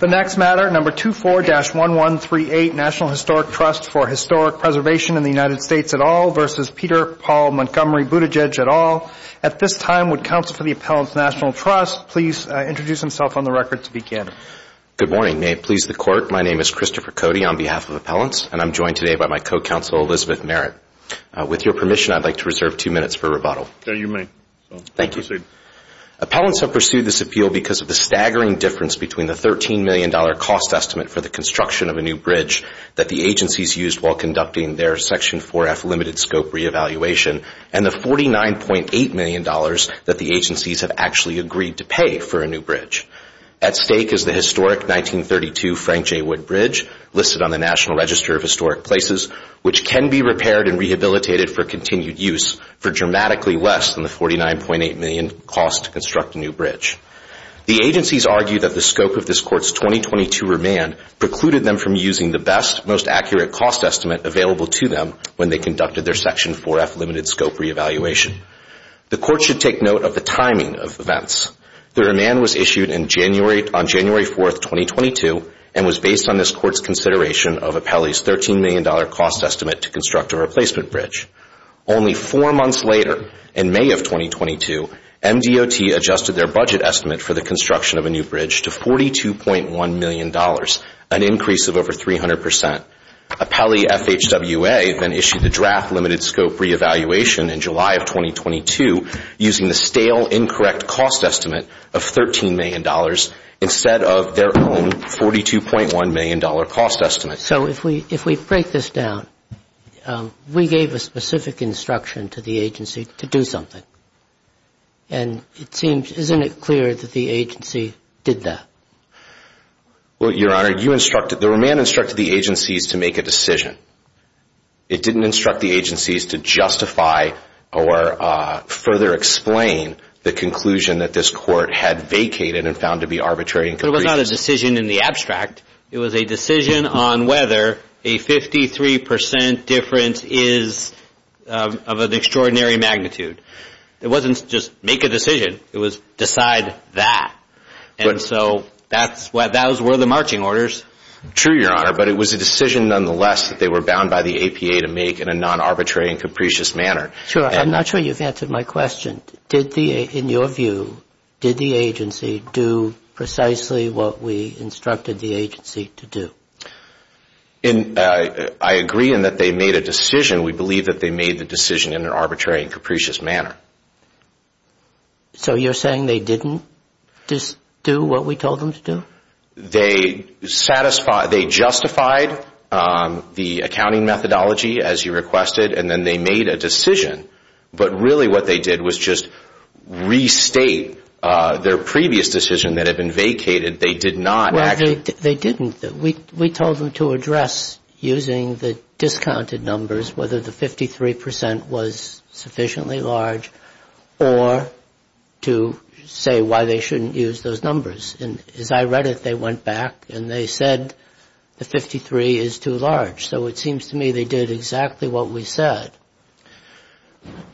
The next matter, No. 24-1138, National Historic Trust for Historic Preservation in the United States et al. v. Peter Paul Montgomery Buttigieg et al. At this time, would counsel for the Appellant's National Trust please introduce himself on the record to begin? Good morning. May it please the Court, my name is Christopher Cody on behalf of Appellants, and I'm joined today by my co-counsel Elizabeth Merritt. With your permission, I'd like to reserve two minutes for rebuttal. There you may. Thank you. Appellants have pursued this appeal because of the staggering difference between the $13 million cost estimate for the construction of a new bridge that the agencies used while conducting their Section 4F limited scope reevaluation, and the $49.8 million that the agencies have actually agreed to pay for a new bridge. At stake is the historic 1932 Frank J. Wood Bridge listed on the National Register of Historic Places, which can be repaired and rehabilitated for continued use for dramatically less than the $49.8 million cost to construct a new bridge. The agencies argue that the scope of this Court's 2022 remand precluded them from using the best, most accurate cost estimate available to them when they conducted their Section 4F limited scope reevaluation. The Court should take note of the timing of events. The remand was issued on January 4, 2022, and was based on this Court's consideration of Appellee's $13 million cost estimate to construct a replacement bridge. Only four months later, in May of 2022, MDOT adjusted their budget estimate for the construction of a new bridge to $42.1 million, an increase of over 300 percent. Appellee FHWA then issued the draft limited scope reevaluation in July of 2022, using the stale, incorrect cost estimate of $13 million instead of their own $42.1 million cost estimate. So if we break this down, we gave a specific instruction to the agency to do something. And it seems, isn't it clear that the agency did that? Well, Your Honor, the remand instructed the agencies to make a decision. It didn't instruct the agencies to justify or further explain the conclusion that this Court had vacated and found to be arbitrary. It was not a decision in the abstract. It was a decision on whether a 53 percent difference is of an extraordinary magnitude. It wasn't just make a decision. It was decide that. And so those were the marching orders. True, Your Honor. But it was a decision, nonetheless, that they were bound by the APA to make in a non-arbitrary and capricious manner. Sure. I'm not sure you've answered my question. In your view, did the agency do precisely what we instructed the agency to do? I agree in that they made a decision. We believe that they made the decision in an arbitrary and capricious manner. So you're saying they didn't do what we told them to do? They justified the accounting methodology, as you requested, and then they made a decision. But really what they did was just restate their previous decision that had been vacated. They did not actually. Well, they didn't. We told them to address using the discounted numbers whether the 53 percent was sufficiently large or to say why they shouldn't use those numbers. And as I read it, they went back and they said the 53 is too large. So it seems to me they did exactly what we said.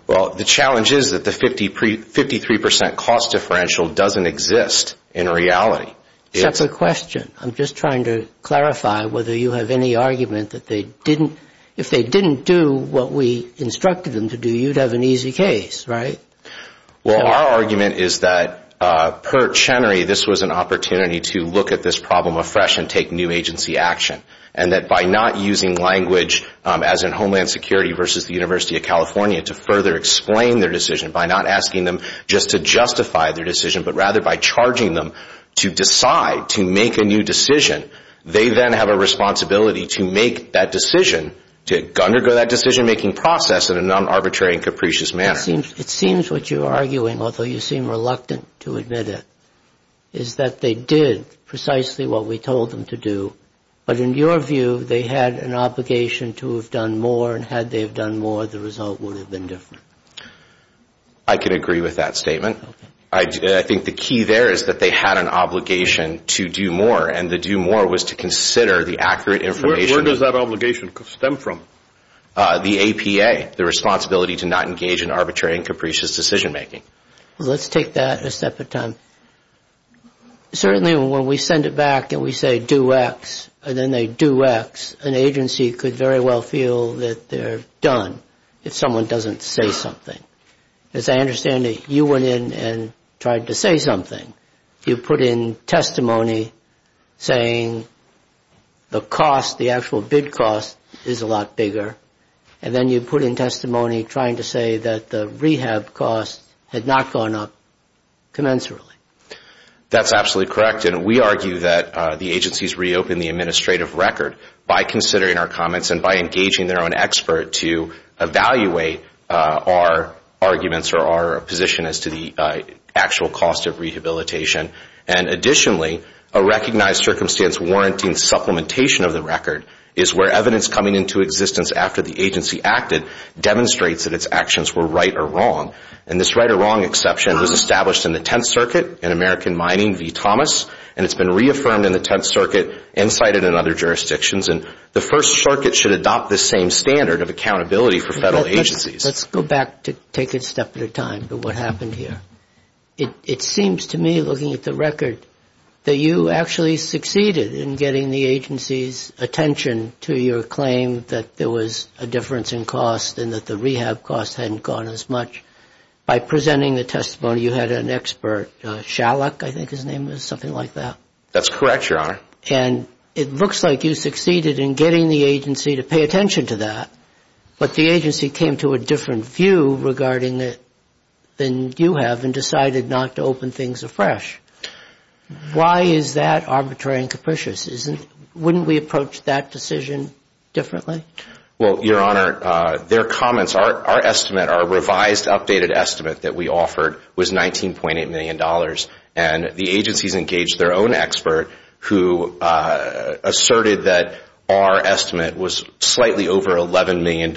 Well, the challenge is that the 53 percent cost differential doesn't exist in reality. Separate question. I'm just trying to clarify whether you have any argument that if they didn't do what we instructed them to do, you'd have an easy case, right? Well, our argument is that per Chenery, this was an opportunity to look at this problem afresh and take new agency action, and that by not using language, as in Homeland Security versus the University of California, to further explain their decision, by not asking them just to justify their decision, but rather by charging them to decide to make a new decision, they then have a responsibility to make that decision, to undergo that decision-making process in a non-arbitrary and capricious manner. It seems what you're arguing, although you seem reluctant to admit it, is that they did precisely what we told them to do, but in your view they had an obligation to have done more, and had they done more, the result would have been different. I can agree with that statement. I think the key there is that they had an obligation to do more, and the do more was to consider the accurate information. Where does that obligation stem from? The APA, the responsibility to not engage in arbitrary and capricious decision-making. Let's take that a step at a time. Certainly when we send it back and we say do X, and then they do X, an agency could very well feel that they're done if someone doesn't say something. As I understand it, you went in and tried to say something. You put in testimony saying the cost, the actual bid cost, is a lot bigger, and then you put in testimony trying to say that the rehab cost had not gone up commensurately. That's absolutely correct, and we argue that the agencies reopen the administrative record by considering our comments and by engaging their own expert to evaluate our arguments or our position as to the actual cost of rehabilitation. Additionally, a recognized circumstance warranting supplementation of the record is where evidence coming into existence after the agency acted demonstrates that its actions were right or wrong. And this right or wrong exception was established in the Tenth Circuit in American Mining v. Thomas, and it's been reaffirmed in the Tenth Circuit and cited in other jurisdictions. And the First Circuit should adopt this same standard of accountability for federal agencies. Let's go back to take it a step at a time to what happened here. It seems to me, looking at the record, that you actually succeeded in getting the agency's attention to your claim that there was a difference in cost and that the rehab cost hadn't gone as much. By presenting the testimony, you had an expert, Shalek, I think his name was, something like that. That's correct, Your Honor. And it looks like you succeeded in getting the agency to pay attention to that, but the agency came to a different view regarding it than you have and decided not to open things afresh. Why is that arbitrary and capricious? Wouldn't we approach that decision differently? Well, Your Honor, their comments, our estimate, our revised updated estimate that we offered was $19.8 million, and the agencies engaged their own expert who asserted that our estimate was slightly over $11 million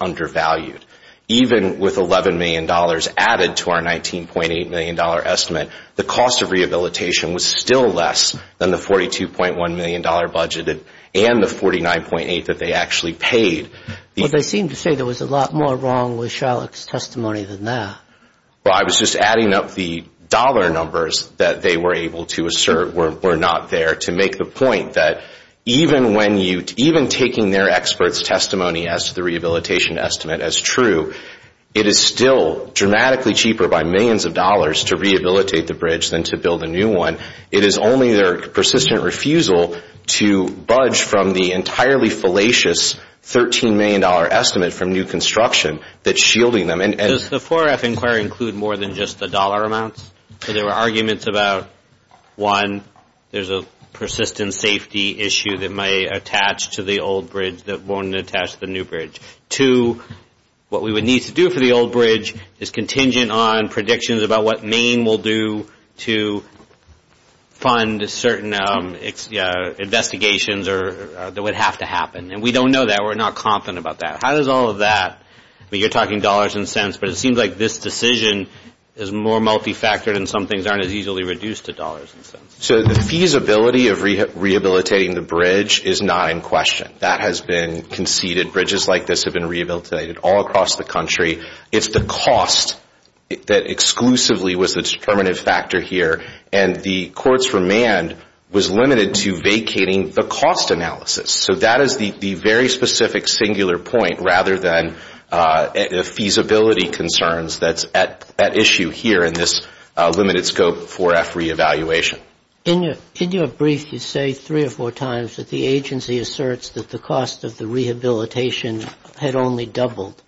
undervalued. Even with $11 million added to our $19.8 million estimate, the cost of rehabilitation was still less than the $42.1 million budget and the $49.8 that they actually paid. But they seem to say there was a lot more wrong with Shalek's testimony than that. Well, I was just adding up the dollar numbers that they were able to assert were not there to make the point that even taking their expert's testimony as to the rehabilitation estimate as true, it is still dramatically cheaper by millions of dollars to rehabilitate the bridge than to build a new one. It is only their persistent refusal to budge from the entirely fallacious $13 million estimate from new construction that's shielding them. Does the 4-F inquiry include more than just the dollar amounts? There were arguments about, one, there's a persistent safety issue that may attach to the old bridge that won't attach to the new bridge. Two, what we would need to do for the old bridge is contingent on predictions about what Maine will do to fund certain investigations that would have to happen. And we don't know that. We're not confident about that. How does all of that, you're talking dollars and cents, but it seems like this decision is more multifactored and some things aren't as easily reduced to dollars and cents. So the feasibility of rehabilitating the bridge is not in question. That has been conceded. Bridges like this have been rehabilitated all across the country. It's the cost that exclusively was the determinative factor here, and the court's remand was limited to vacating the cost analysis. So that is the very specific singular point rather than feasibility concerns that's at issue here in this limited scope 4-F reevaluation. In your brief, you say three or four times that the agency asserts that the cost of the rehabilitation had only doubled.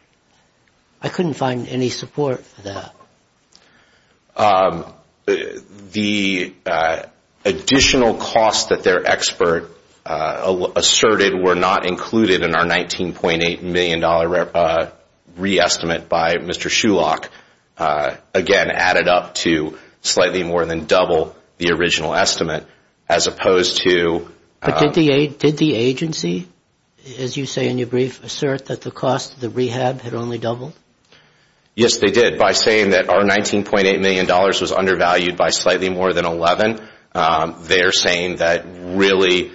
I couldn't find any support for that. The additional costs that their expert asserted were not included in our $19.8 million re-estimate by Mr. Shulock, again, added up to slightly more than double the original estimate as opposed to... But did the agency, as you say in your brief, assert that the cost of the rehab had only doubled? Yes, they did. By saying that our $19.8 million was undervalued by slightly more than 11, they're saying that really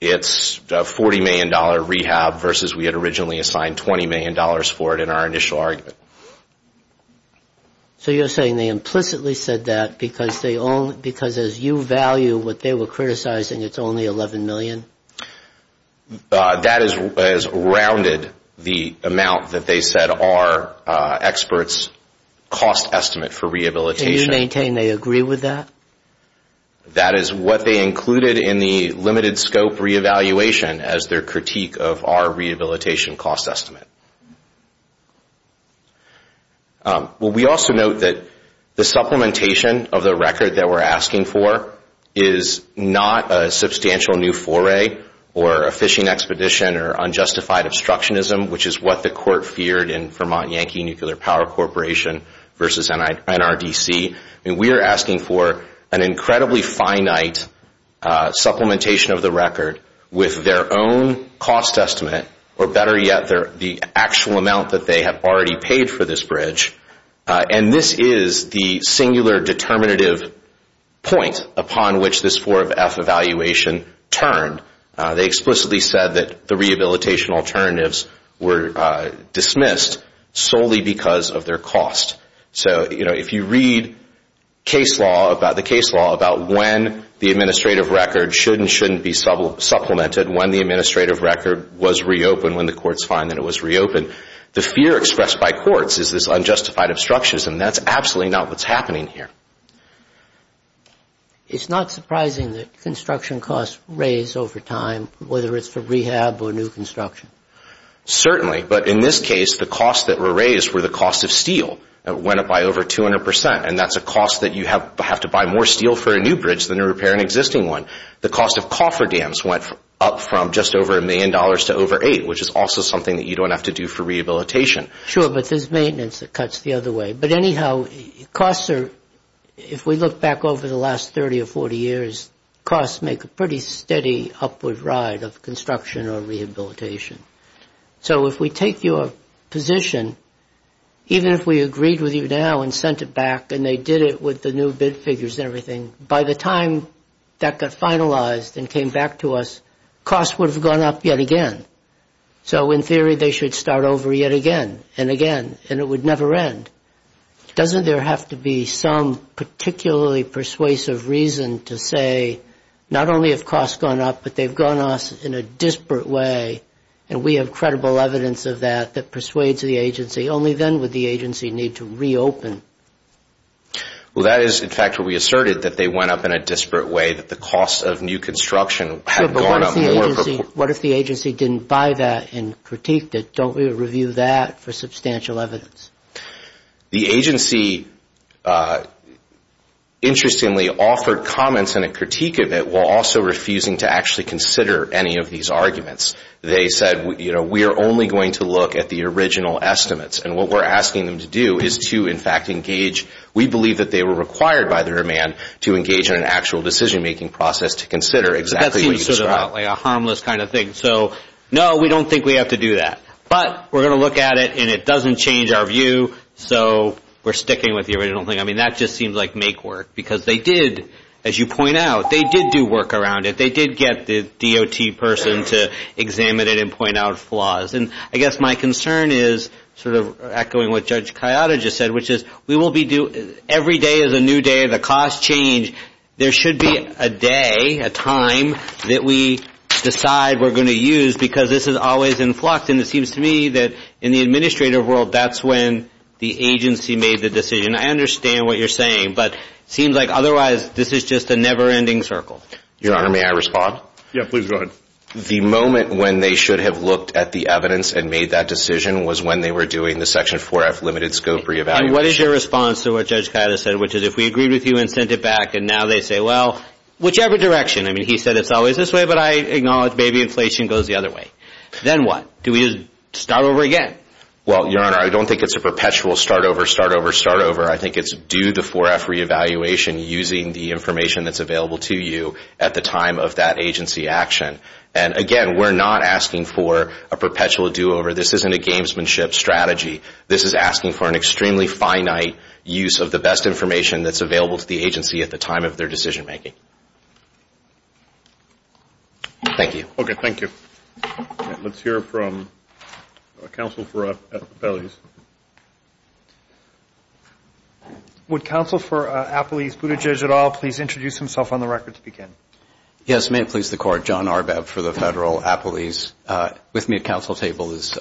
it's a $40 million rehab versus we had originally assigned $20 million for it in our initial argument. So you're saying they implicitly said that because as you value what they were criticizing, it's only $11 million? That has rounded the amount that they said our experts cost estimate for rehabilitation. Can you maintain they agree with that? That is what they included in the limited scope re-evaluation as their critique of our rehabilitation cost estimate. Well, we also note that the supplementation of the record that we're asking for is not a substantial new foray or a fishing expedition or unjustified obstructionism, which is what the court feared in Vermont Yankee Nuclear Power Corporation versus NRDC. We are asking for an incredibly finite supplementation of the record with their own cost estimate, or better yet, the actual amount that they have already paid for this bridge. And this is the singular determinative point upon which this 4F evaluation turned. They explicitly said that the rehabilitation alternatives were dismissed solely because of their cost. So if you read the case law about when the administrative record should and shouldn't be supplemented, when the administrative record was reopened, when the courts find that it was reopened, the fear expressed by courts is this unjustified obstructionism. That's absolutely not what's happening here. It's not surprising that construction costs raise over time, whether it's for rehab or new construction. Certainly, but in this case, the costs that were raised were the costs of steel. It went up by over 200 percent, and that's a cost that you have to buy more steel for a new bridge than to repair an existing one. The cost of cofferdams went up from just over a million dollars to over eight, which is also something that you don't have to do for rehabilitation. Sure, but there's maintenance that cuts the other way. But anyhow, costs are, if we look back over the last 30 or 40 years, costs make a pretty steady upward ride of construction or rehabilitation. So if we take your position, even if we agreed with you now and sent it back and they did it with the new bid figures and everything, by the time that got finalized and came back to us, costs would have gone up yet again. So in theory, they should start over yet again and again, and it would never end. Doesn't there have to be some particularly persuasive reason to say, not only have costs gone up, but they've gone up in a disparate way, and we have credible evidence of that that persuades the agency? Only then would the agency need to reopen. Well, that is, in fact, where we asserted that they went up in a disparate way, that the cost of new construction had gone up more. What if the agency didn't buy that and critiqued it? Don't we review that for substantial evidence? The agency, interestingly, offered comments and a critique of it while also refusing to actually consider any of these arguments. They said, you know, we are only going to look at the original estimates, and what we're asking them to do is to, in fact, engage. We believe that they were required by their demand to engage in an actual decision-making process to consider exactly what you described. That seems sort of like a harmless kind of thing. So, no, we don't think we have to do that. But we're going to look at it, and it doesn't change our view, so we're sticking with the original thing. I mean, that just seems like make work, because they did, as you point out, they did do work around it. They did get the DOT person to examine it and point out flaws. And I guess my concern is sort of echoing what Judge Kayada just said, which is every day is a new day. The costs change. I mean, there should be a day, a time, that we decide we're going to use because this is always in flux. And it seems to me that in the administrative world, that's when the agency made the decision. I understand what you're saying, but it seems like otherwise this is just a never-ending circle. Your Honor, may I respond? Yeah, please go ahead. The moment when they should have looked at the evidence and made that decision was when they were doing the Section 4F limited scope re-evaluation. And what is your response to what Judge Kayada said, which is if we agreed with you and sent it back, and now they say, well, whichever direction. I mean, he said it's always this way, but I acknowledge maybe inflation goes the other way. Then what? Do we just start over again? Well, Your Honor, I don't think it's a perpetual start over, start over, start over. I think it's do the 4F re-evaluation using the information that's available to you at the time of that agency action. And again, we're not asking for a perpetual do-over. This isn't a gamesmanship strategy. This is asking for an extremely finite use of the best information that's available to the agency at the time of their decision-making. Thank you. Okay, thank you. Let's hear from counsel for Appalese. Would counsel for Appalese, Buttigieg, et al., please introduce himself on the record to begin? Yes, may it please the Court. John Arbab for the Federal Appalese. With me at counsel's table is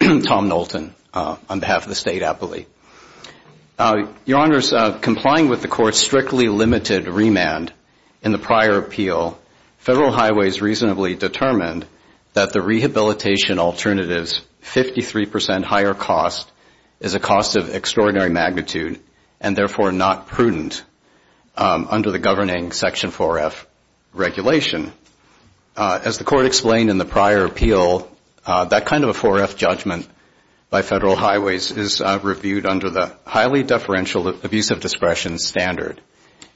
Tom Knowlton on behalf of the State Appalese. Your Honors, complying with the Court's strictly limited remand in the prior appeal, Federal Highways reasonably determined that the rehabilitation alternative's 53 percent higher cost is a cost of extraordinary magnitude and therefore not prudent under the governing Section 4F regulation. As the Court explained in the prior appeal, that kind of a 4F judgment by Federal Highways is reviewed under the highly deferential abuse of discretion standard.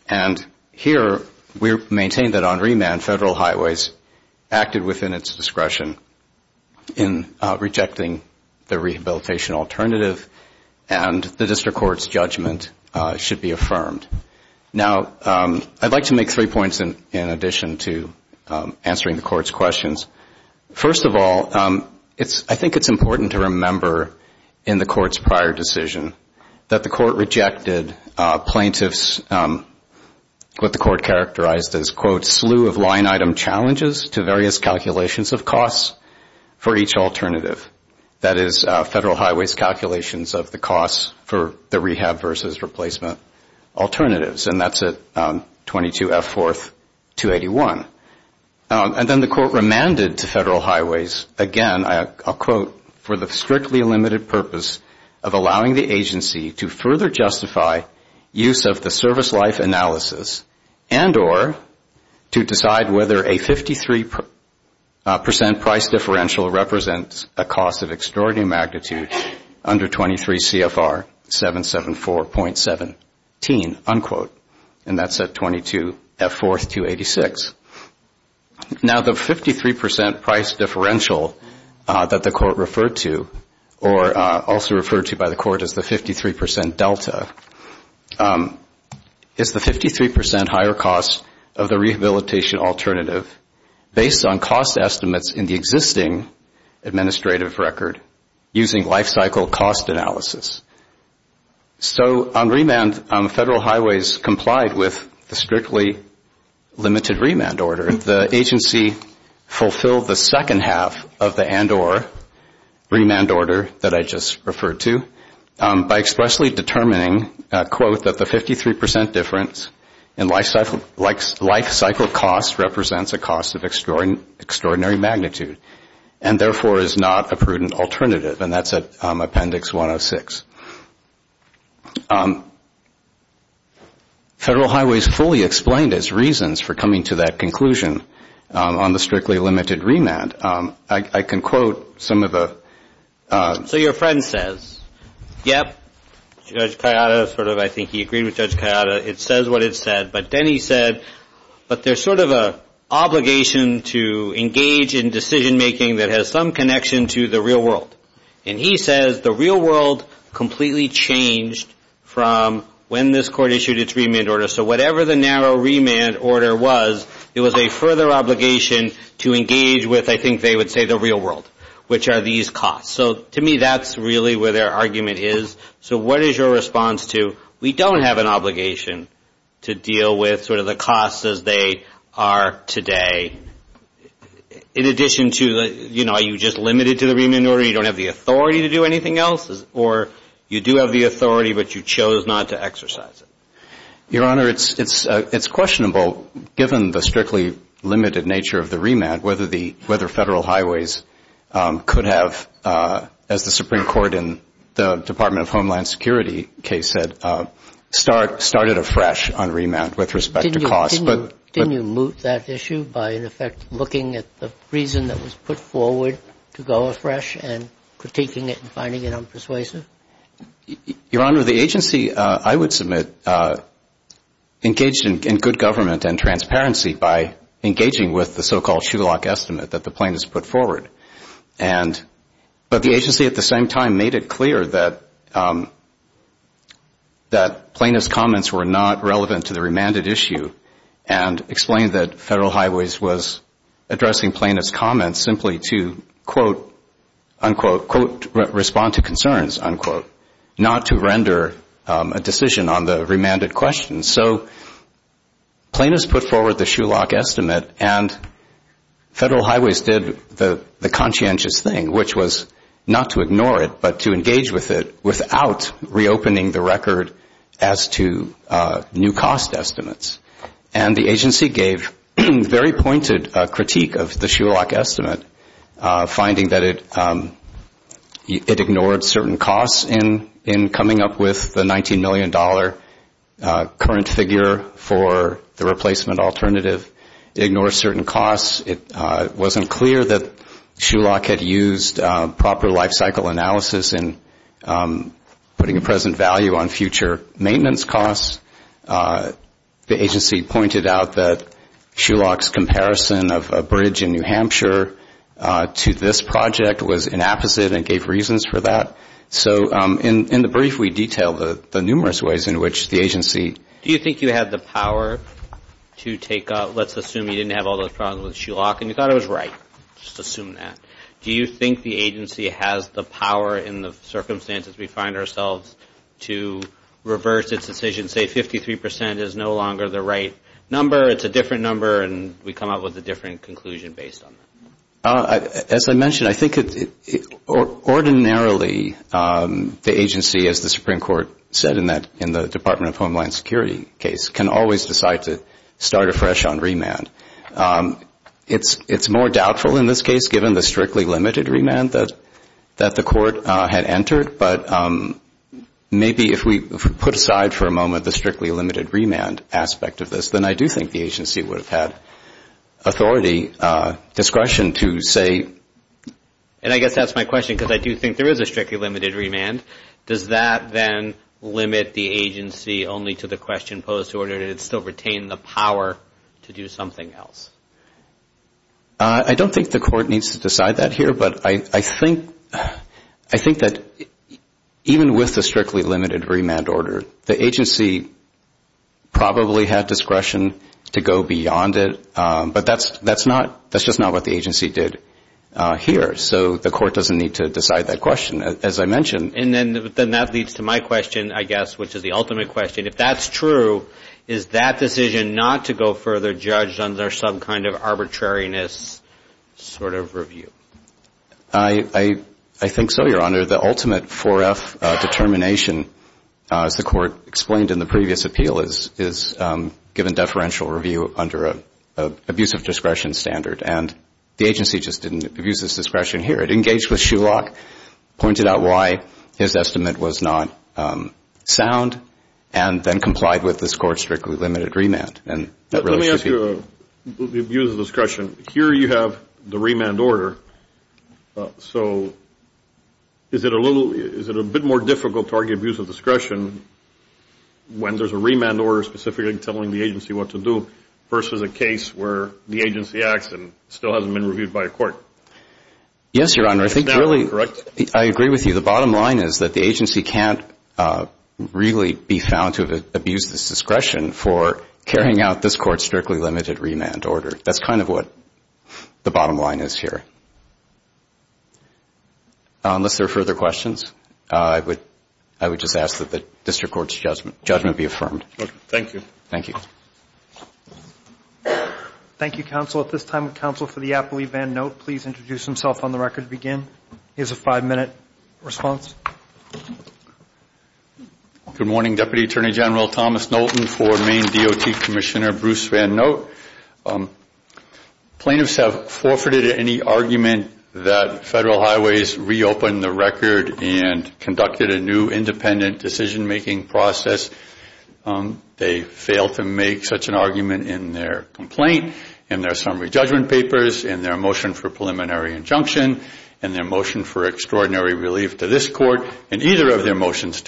And here we maintain that on remand, Federal Highways acted within its discretion in rejecting the rehabilitation alternative, and the District Court's judgment should be affirmed. Now, I'd like to make three points in addition to answering the Court's questions. First of all, I think it's important to remember in the Court's prior decision that the Court rejected plaintiffs with the Court characterized as, quote, slew of line item challenges to various calculations of costs for each alternative. That is, Federal Highways' calculations of the costs for the rehab versus replacement alternatives. And that's at 22F 4th 281. And then the Court remanded to Federal Highways, again, I'll quote, for the strictly limited purpose of allowing the agency to further justify use of the service life analysis and or to decide whether a 53 percent price differential represents a cost of extraordinary magnitude under 23 CFR 774.17, unquote. And that's at 22F 4th 286. Now, the 53 percent price differential that the Court referred to, or also referred to by the Court as the 53 percent delta, is the 53 percent higher cost of the rehabilitation alternative based on cost estimates in the existing administrative record using life cycle cost analysis. So on remand, Federal Highways complied with the strictly limited remand order. The agency fulfilled the second half of the and or remand order that I just referred to by expressly determining, quote, that the 53 percent difference in life cycle cost represents a cost of extraordinary magnitude and therefore is not a prudent alternative. And that's at Appendix 106. Federal Highways fully explained its reasons for coming to that conclusion on the strictly limited remand. And I can quote some of the... So your friend says, yep, Judge Kayada, sort of I think he agreed with Judge Kayada. It says what it said. But then he said, but there's sort of an obligation to engage in decision making that has some connection to the real world. And he says the real world completely changed from when this Court issued its remand order. So whatever the narrow remand order was, it was a further obligation to engage with, I think they would say, the real world, which are these costs. So to me, that's really where their argument is. So what is your response to we don't have an obligation to deal with sort of the costs as they are today? In addition to, you know, are you just limited to the remand order? You don't have the authority to do anything else? Or you do have the authority, but you chose not to exercise it? Your Honor, it's questionable, given the strictly limited nature of the remand, whether Federal Highways could have, as the Supreme Court in the Department of Homeland Security case said, started afresh on remand with respect to costs. Didn't you moot that issue by, in effect, looking at the reason that was put forward to go afresh and critiquing it and finding it unpersuasive? Your Honor, the agency, I would submit, engaged in good government and transparency by engaging with the so-called Schulach estimate that the plaintiffs put forward. But the agency at the same time made it clear that plaintiffs' comments were not relevant to the remanded issue and explained that Federal Highways was addressing plaintiffs' comments simply to, quote, unquote, respond to concerns, unquote, not to render a decision on the remanded question. So plaintiffs put forward the Schulach estimate, and Federal Highways did the conscientious thing, which was not to ignore it, but to engage with it without reopening the record as to new cost estimates. And the agency gave very pointed critique of the Schulach estimate, finding that it ignored certain costs in coming up with the $19 million current figure for the replacement alternative. It ignored certain costs. It wasn't clear that Schulach had used proper lifecycle analysis in putting a present value on future maintenance costs. The agency pointed out that Schulach's comparison of a bridge in New Hampshire to this project was inapposite and gave reasons for that. So in the brief, we detail the numerous ways in which the agency. Do you think you had the power to take out, let's assume you didn't have all those problems with Schulach and you thought it was right, just assume that. Do you think the agency has the power in the circumstances we find ourselves to reverse its decision, say 53 percent is no longer the right number, it's a different number, and we come up with a different conclusion based on that? As I mentioned, I think ordinarily the agency, as the Supreme Court said in the Department of Homeland Security case, can always decide to start afresh on remand. It's more doubtful in this case, given the strictly limited remand that the court had entered, but maybe if we put aside for a moment the strictly limited remand aspect of this, then I do think the agency would have had authority, discretion to say. And I guess that's my question, because I do think there is a strictly limited remand. Does that then limit the agency only to the question posed, or did it still retain the power to do something else? I don't think the court needs to decide that here, but I think that even with the strictly limited remand order, the agency probably had discretion to go beyond it, but that's just not what the agency did here. So the court doesn't need to decide that question, as I mentioned. And then that leads to my question, I guess, which is the ultimate question. I mean, if that's true, is that decision not to go further judged under some kind of arbitrariness sort of review? I think so, Your Honor. The ultimate 4F determination, as the court explained in the previous appeal, is given deferential review under an abuse of discretion standard, and the agency just didn't abuse its discretion here. It engaged with Shulock, pointed out why his estimate was not sound, and then complied with this court's strictly limited remand. Let me ask you about the abuse of discretion. Here you have the remand order. So is it a bit more difficult to argue abuse of discretion when there's a remand order specifically telling the agency what to do versus a case where the agency acts and still hasn't been reviewed by a court? Yes, Your Honor. I think really I agree with you. The bottom line is that the agency can't really be found to have abused its discretion for carrying out this court's strictly limited remand order. That's kind of what the bottom line is here. Unless there are further questions, I would just ask that the district court's judgment be affirmed. Okay. Thank you. Thank you. Thank you, counsel. At this time, would counsel for the appellee, Van Note, please introduce himself on the record to begin. He has a five-minute response. Good morning, Deputy Attorney General Thomas Knowlton for Maine DOT Commissioner Bruce Van Note. Plaintiffs have forfeited any argument that Federal Highways reopened the record and conducted a new independent decision-making process. They failed to make such an argument in their complaint, in their summary judgment papers, in their motion for preliminary injunction, in their motion for extraordinary relief to this court, and either of their motions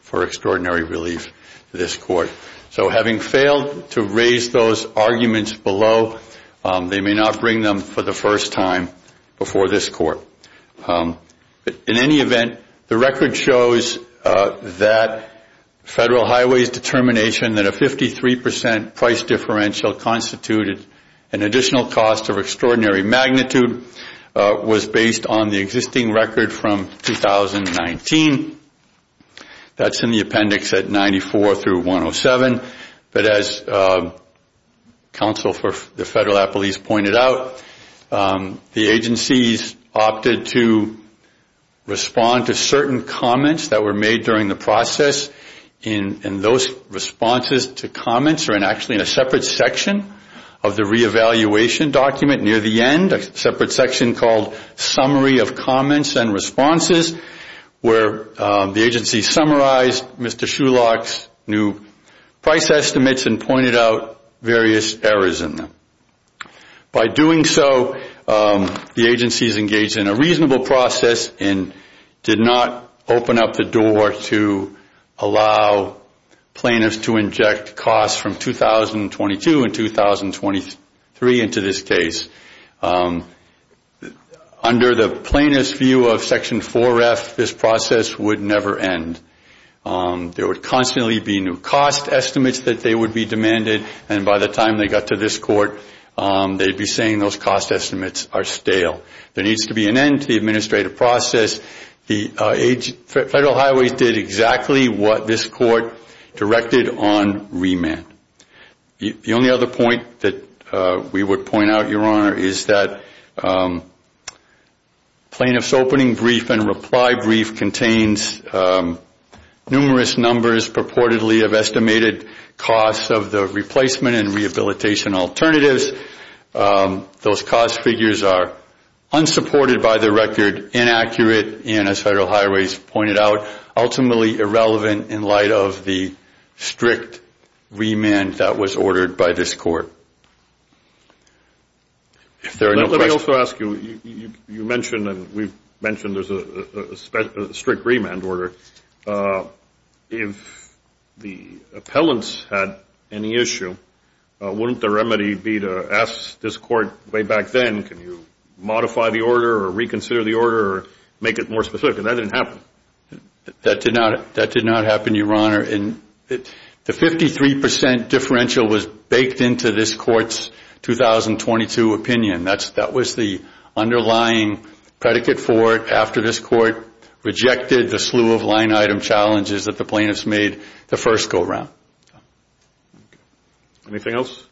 for extraordinary relief to this court. So having failed to raise those arguments below, they may not bring them for the first time before this court. In any event, the record shows that Federal Highways' determination that a 53 percent price differential constituted an additional cost of extraordinary magnitude was based on the existing record from 2019. That's in the appendix at 94 through 107. But as counsel for the Federal appellees pointed out, the agencies opted to respond to certain comments that were made during the process. And those responses to comments are actually in a separate section of the reevaluation document near the end, a separate section called Summary of Comments and Responses, where the agency summarized Mr. Schulach's new price estimates and pointed out various errors in them. By doing so, the agencies engaged in a reasonable process and did not open up the door to allow plaintiffs to inject costs from 2022 and 2023 into this case. Under the plaintiff's view of Section 4F, this process would never end. There would constantly be new cost estimates that they would be demanded, and by the time they got to this court, they'd be saying those cost estimates are stale. There needs to be an end to the administrative process. Federal Highways did exactly what this court directed on remand. The only other point that we would point out, Your Honor, is that plaintiff's opening brief and reply brief contains numerous numbers purportedly of estimated costs of the replacement and rehabilitation alternatives. Those cost figures are unsupported by the record, inaccurate, and as Federal Highways pointed out, ultimately irrelevant in light of the strict remand that was ordered by this court. Let me also ask you, you mentioned and we've mentioned there's a strict remand order. If the appellants had any issue, wouldn't the remedy be to ask this court way back then, can you modify the order or reconsider the order or make it more specific? And that didn't happen. That did not happen, Your Honor. The 53% differential was baked into this court's 2022 opinion. That was the underlying predicate for it after this court rejected the slew of line-item challenges that the plaintiffs made the first go-round. Anything else?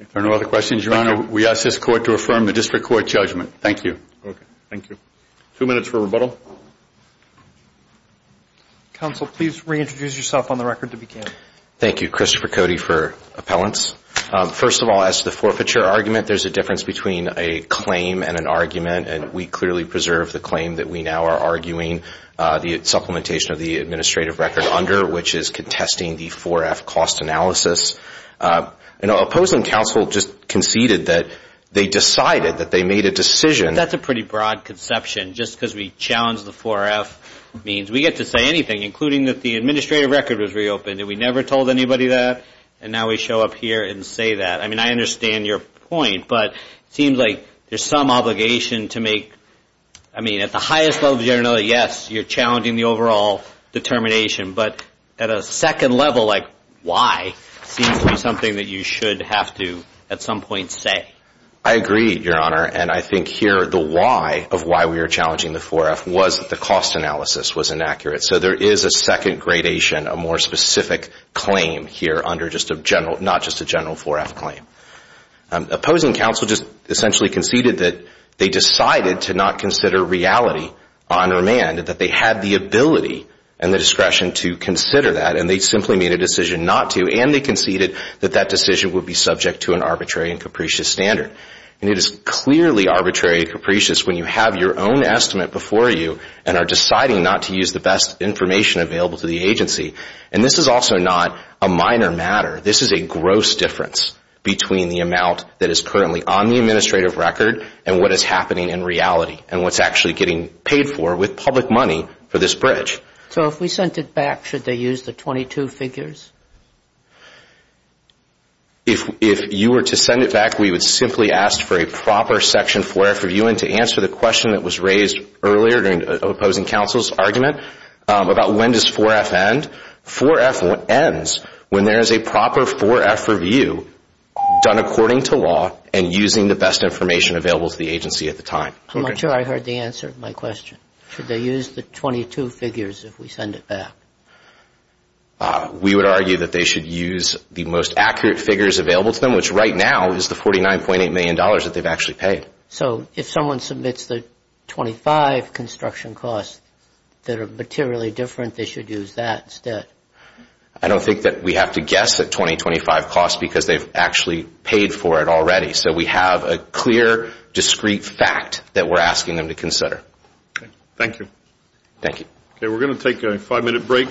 If there are no other questions, Your Honor, we ask this court to affirm the district court judgment. Thank you. Okay, thank you. Two minutes for rebuttal. Counsel, please reintroduce yourself on the record to begin. Thank you. Christopher Cody for appellants. First of all, as to the forfeiture argument, there's a difference between a claim and an argument, and we clearly preserve the claim that we now are arguing the supplementation of the administrative record under, which is contesting the 4-F cost analysis. And opposing counsel just conceded that they decided that they made a decision. That's a pretty broad conception just because we challenged the 4-F means. We get to say anything, including that the administrative record was reopened, and we never told anybody that, and now we show up here and say that. I mean, I understand your point, but it seems like there's some obligation to make, I mean, at the highest level generally, yes, you're challenging the overall determination, but at a second level like why seems to be something that you should have to at some point say. I agree, Your Honor, and I think here the why of why we are challenging the 4-F was that the cost analysis was inaccurate. So there is a second gradation, a more specific claim here under just a general, not just a general 4-F claim. Opposing counsel just essentially conceded that they decided to not consider reality on remand, that they had the ability and the discretion to consider that, and they simply made a decision not to, and they conceded that that decision would be subject to an arbitrary and capricious standard. And it is clearly arbitrary and capricious when you have your own estimate before you and are deciding not to use the best information available to the agency. And this is also not a minor matter. This is a gross difference between the amount that is currently on the administrative record and what is happening in reality and what's actually getting paid for with public money for this bridge. So if we sent it back, should they use the 22 figures? If you were to send it back, we would simply ask for a proper section 4-F review and to answer the question that was raised earlier during opposing counsel's argument about when does 4-F end. 4-F ends when there is a proper 4-F review done according to law and using the best information available to the agency at the time. I'm not sure I heard the answer to my question. Should they use the 22 figures if we send it back? We would argue that they should use the most accurate figures available to them, which right now is the $49.8 million that they've actually paid. So if someone submits the 25 construction costs that are materially different, they should use that instead. I don't think that we have to guess at 2025 costs because they've actually paid for it already. So we have a clear, discrete fact that we're asking them to consider. Thank you. Thank you. Okay, we're going to take a five-minute break.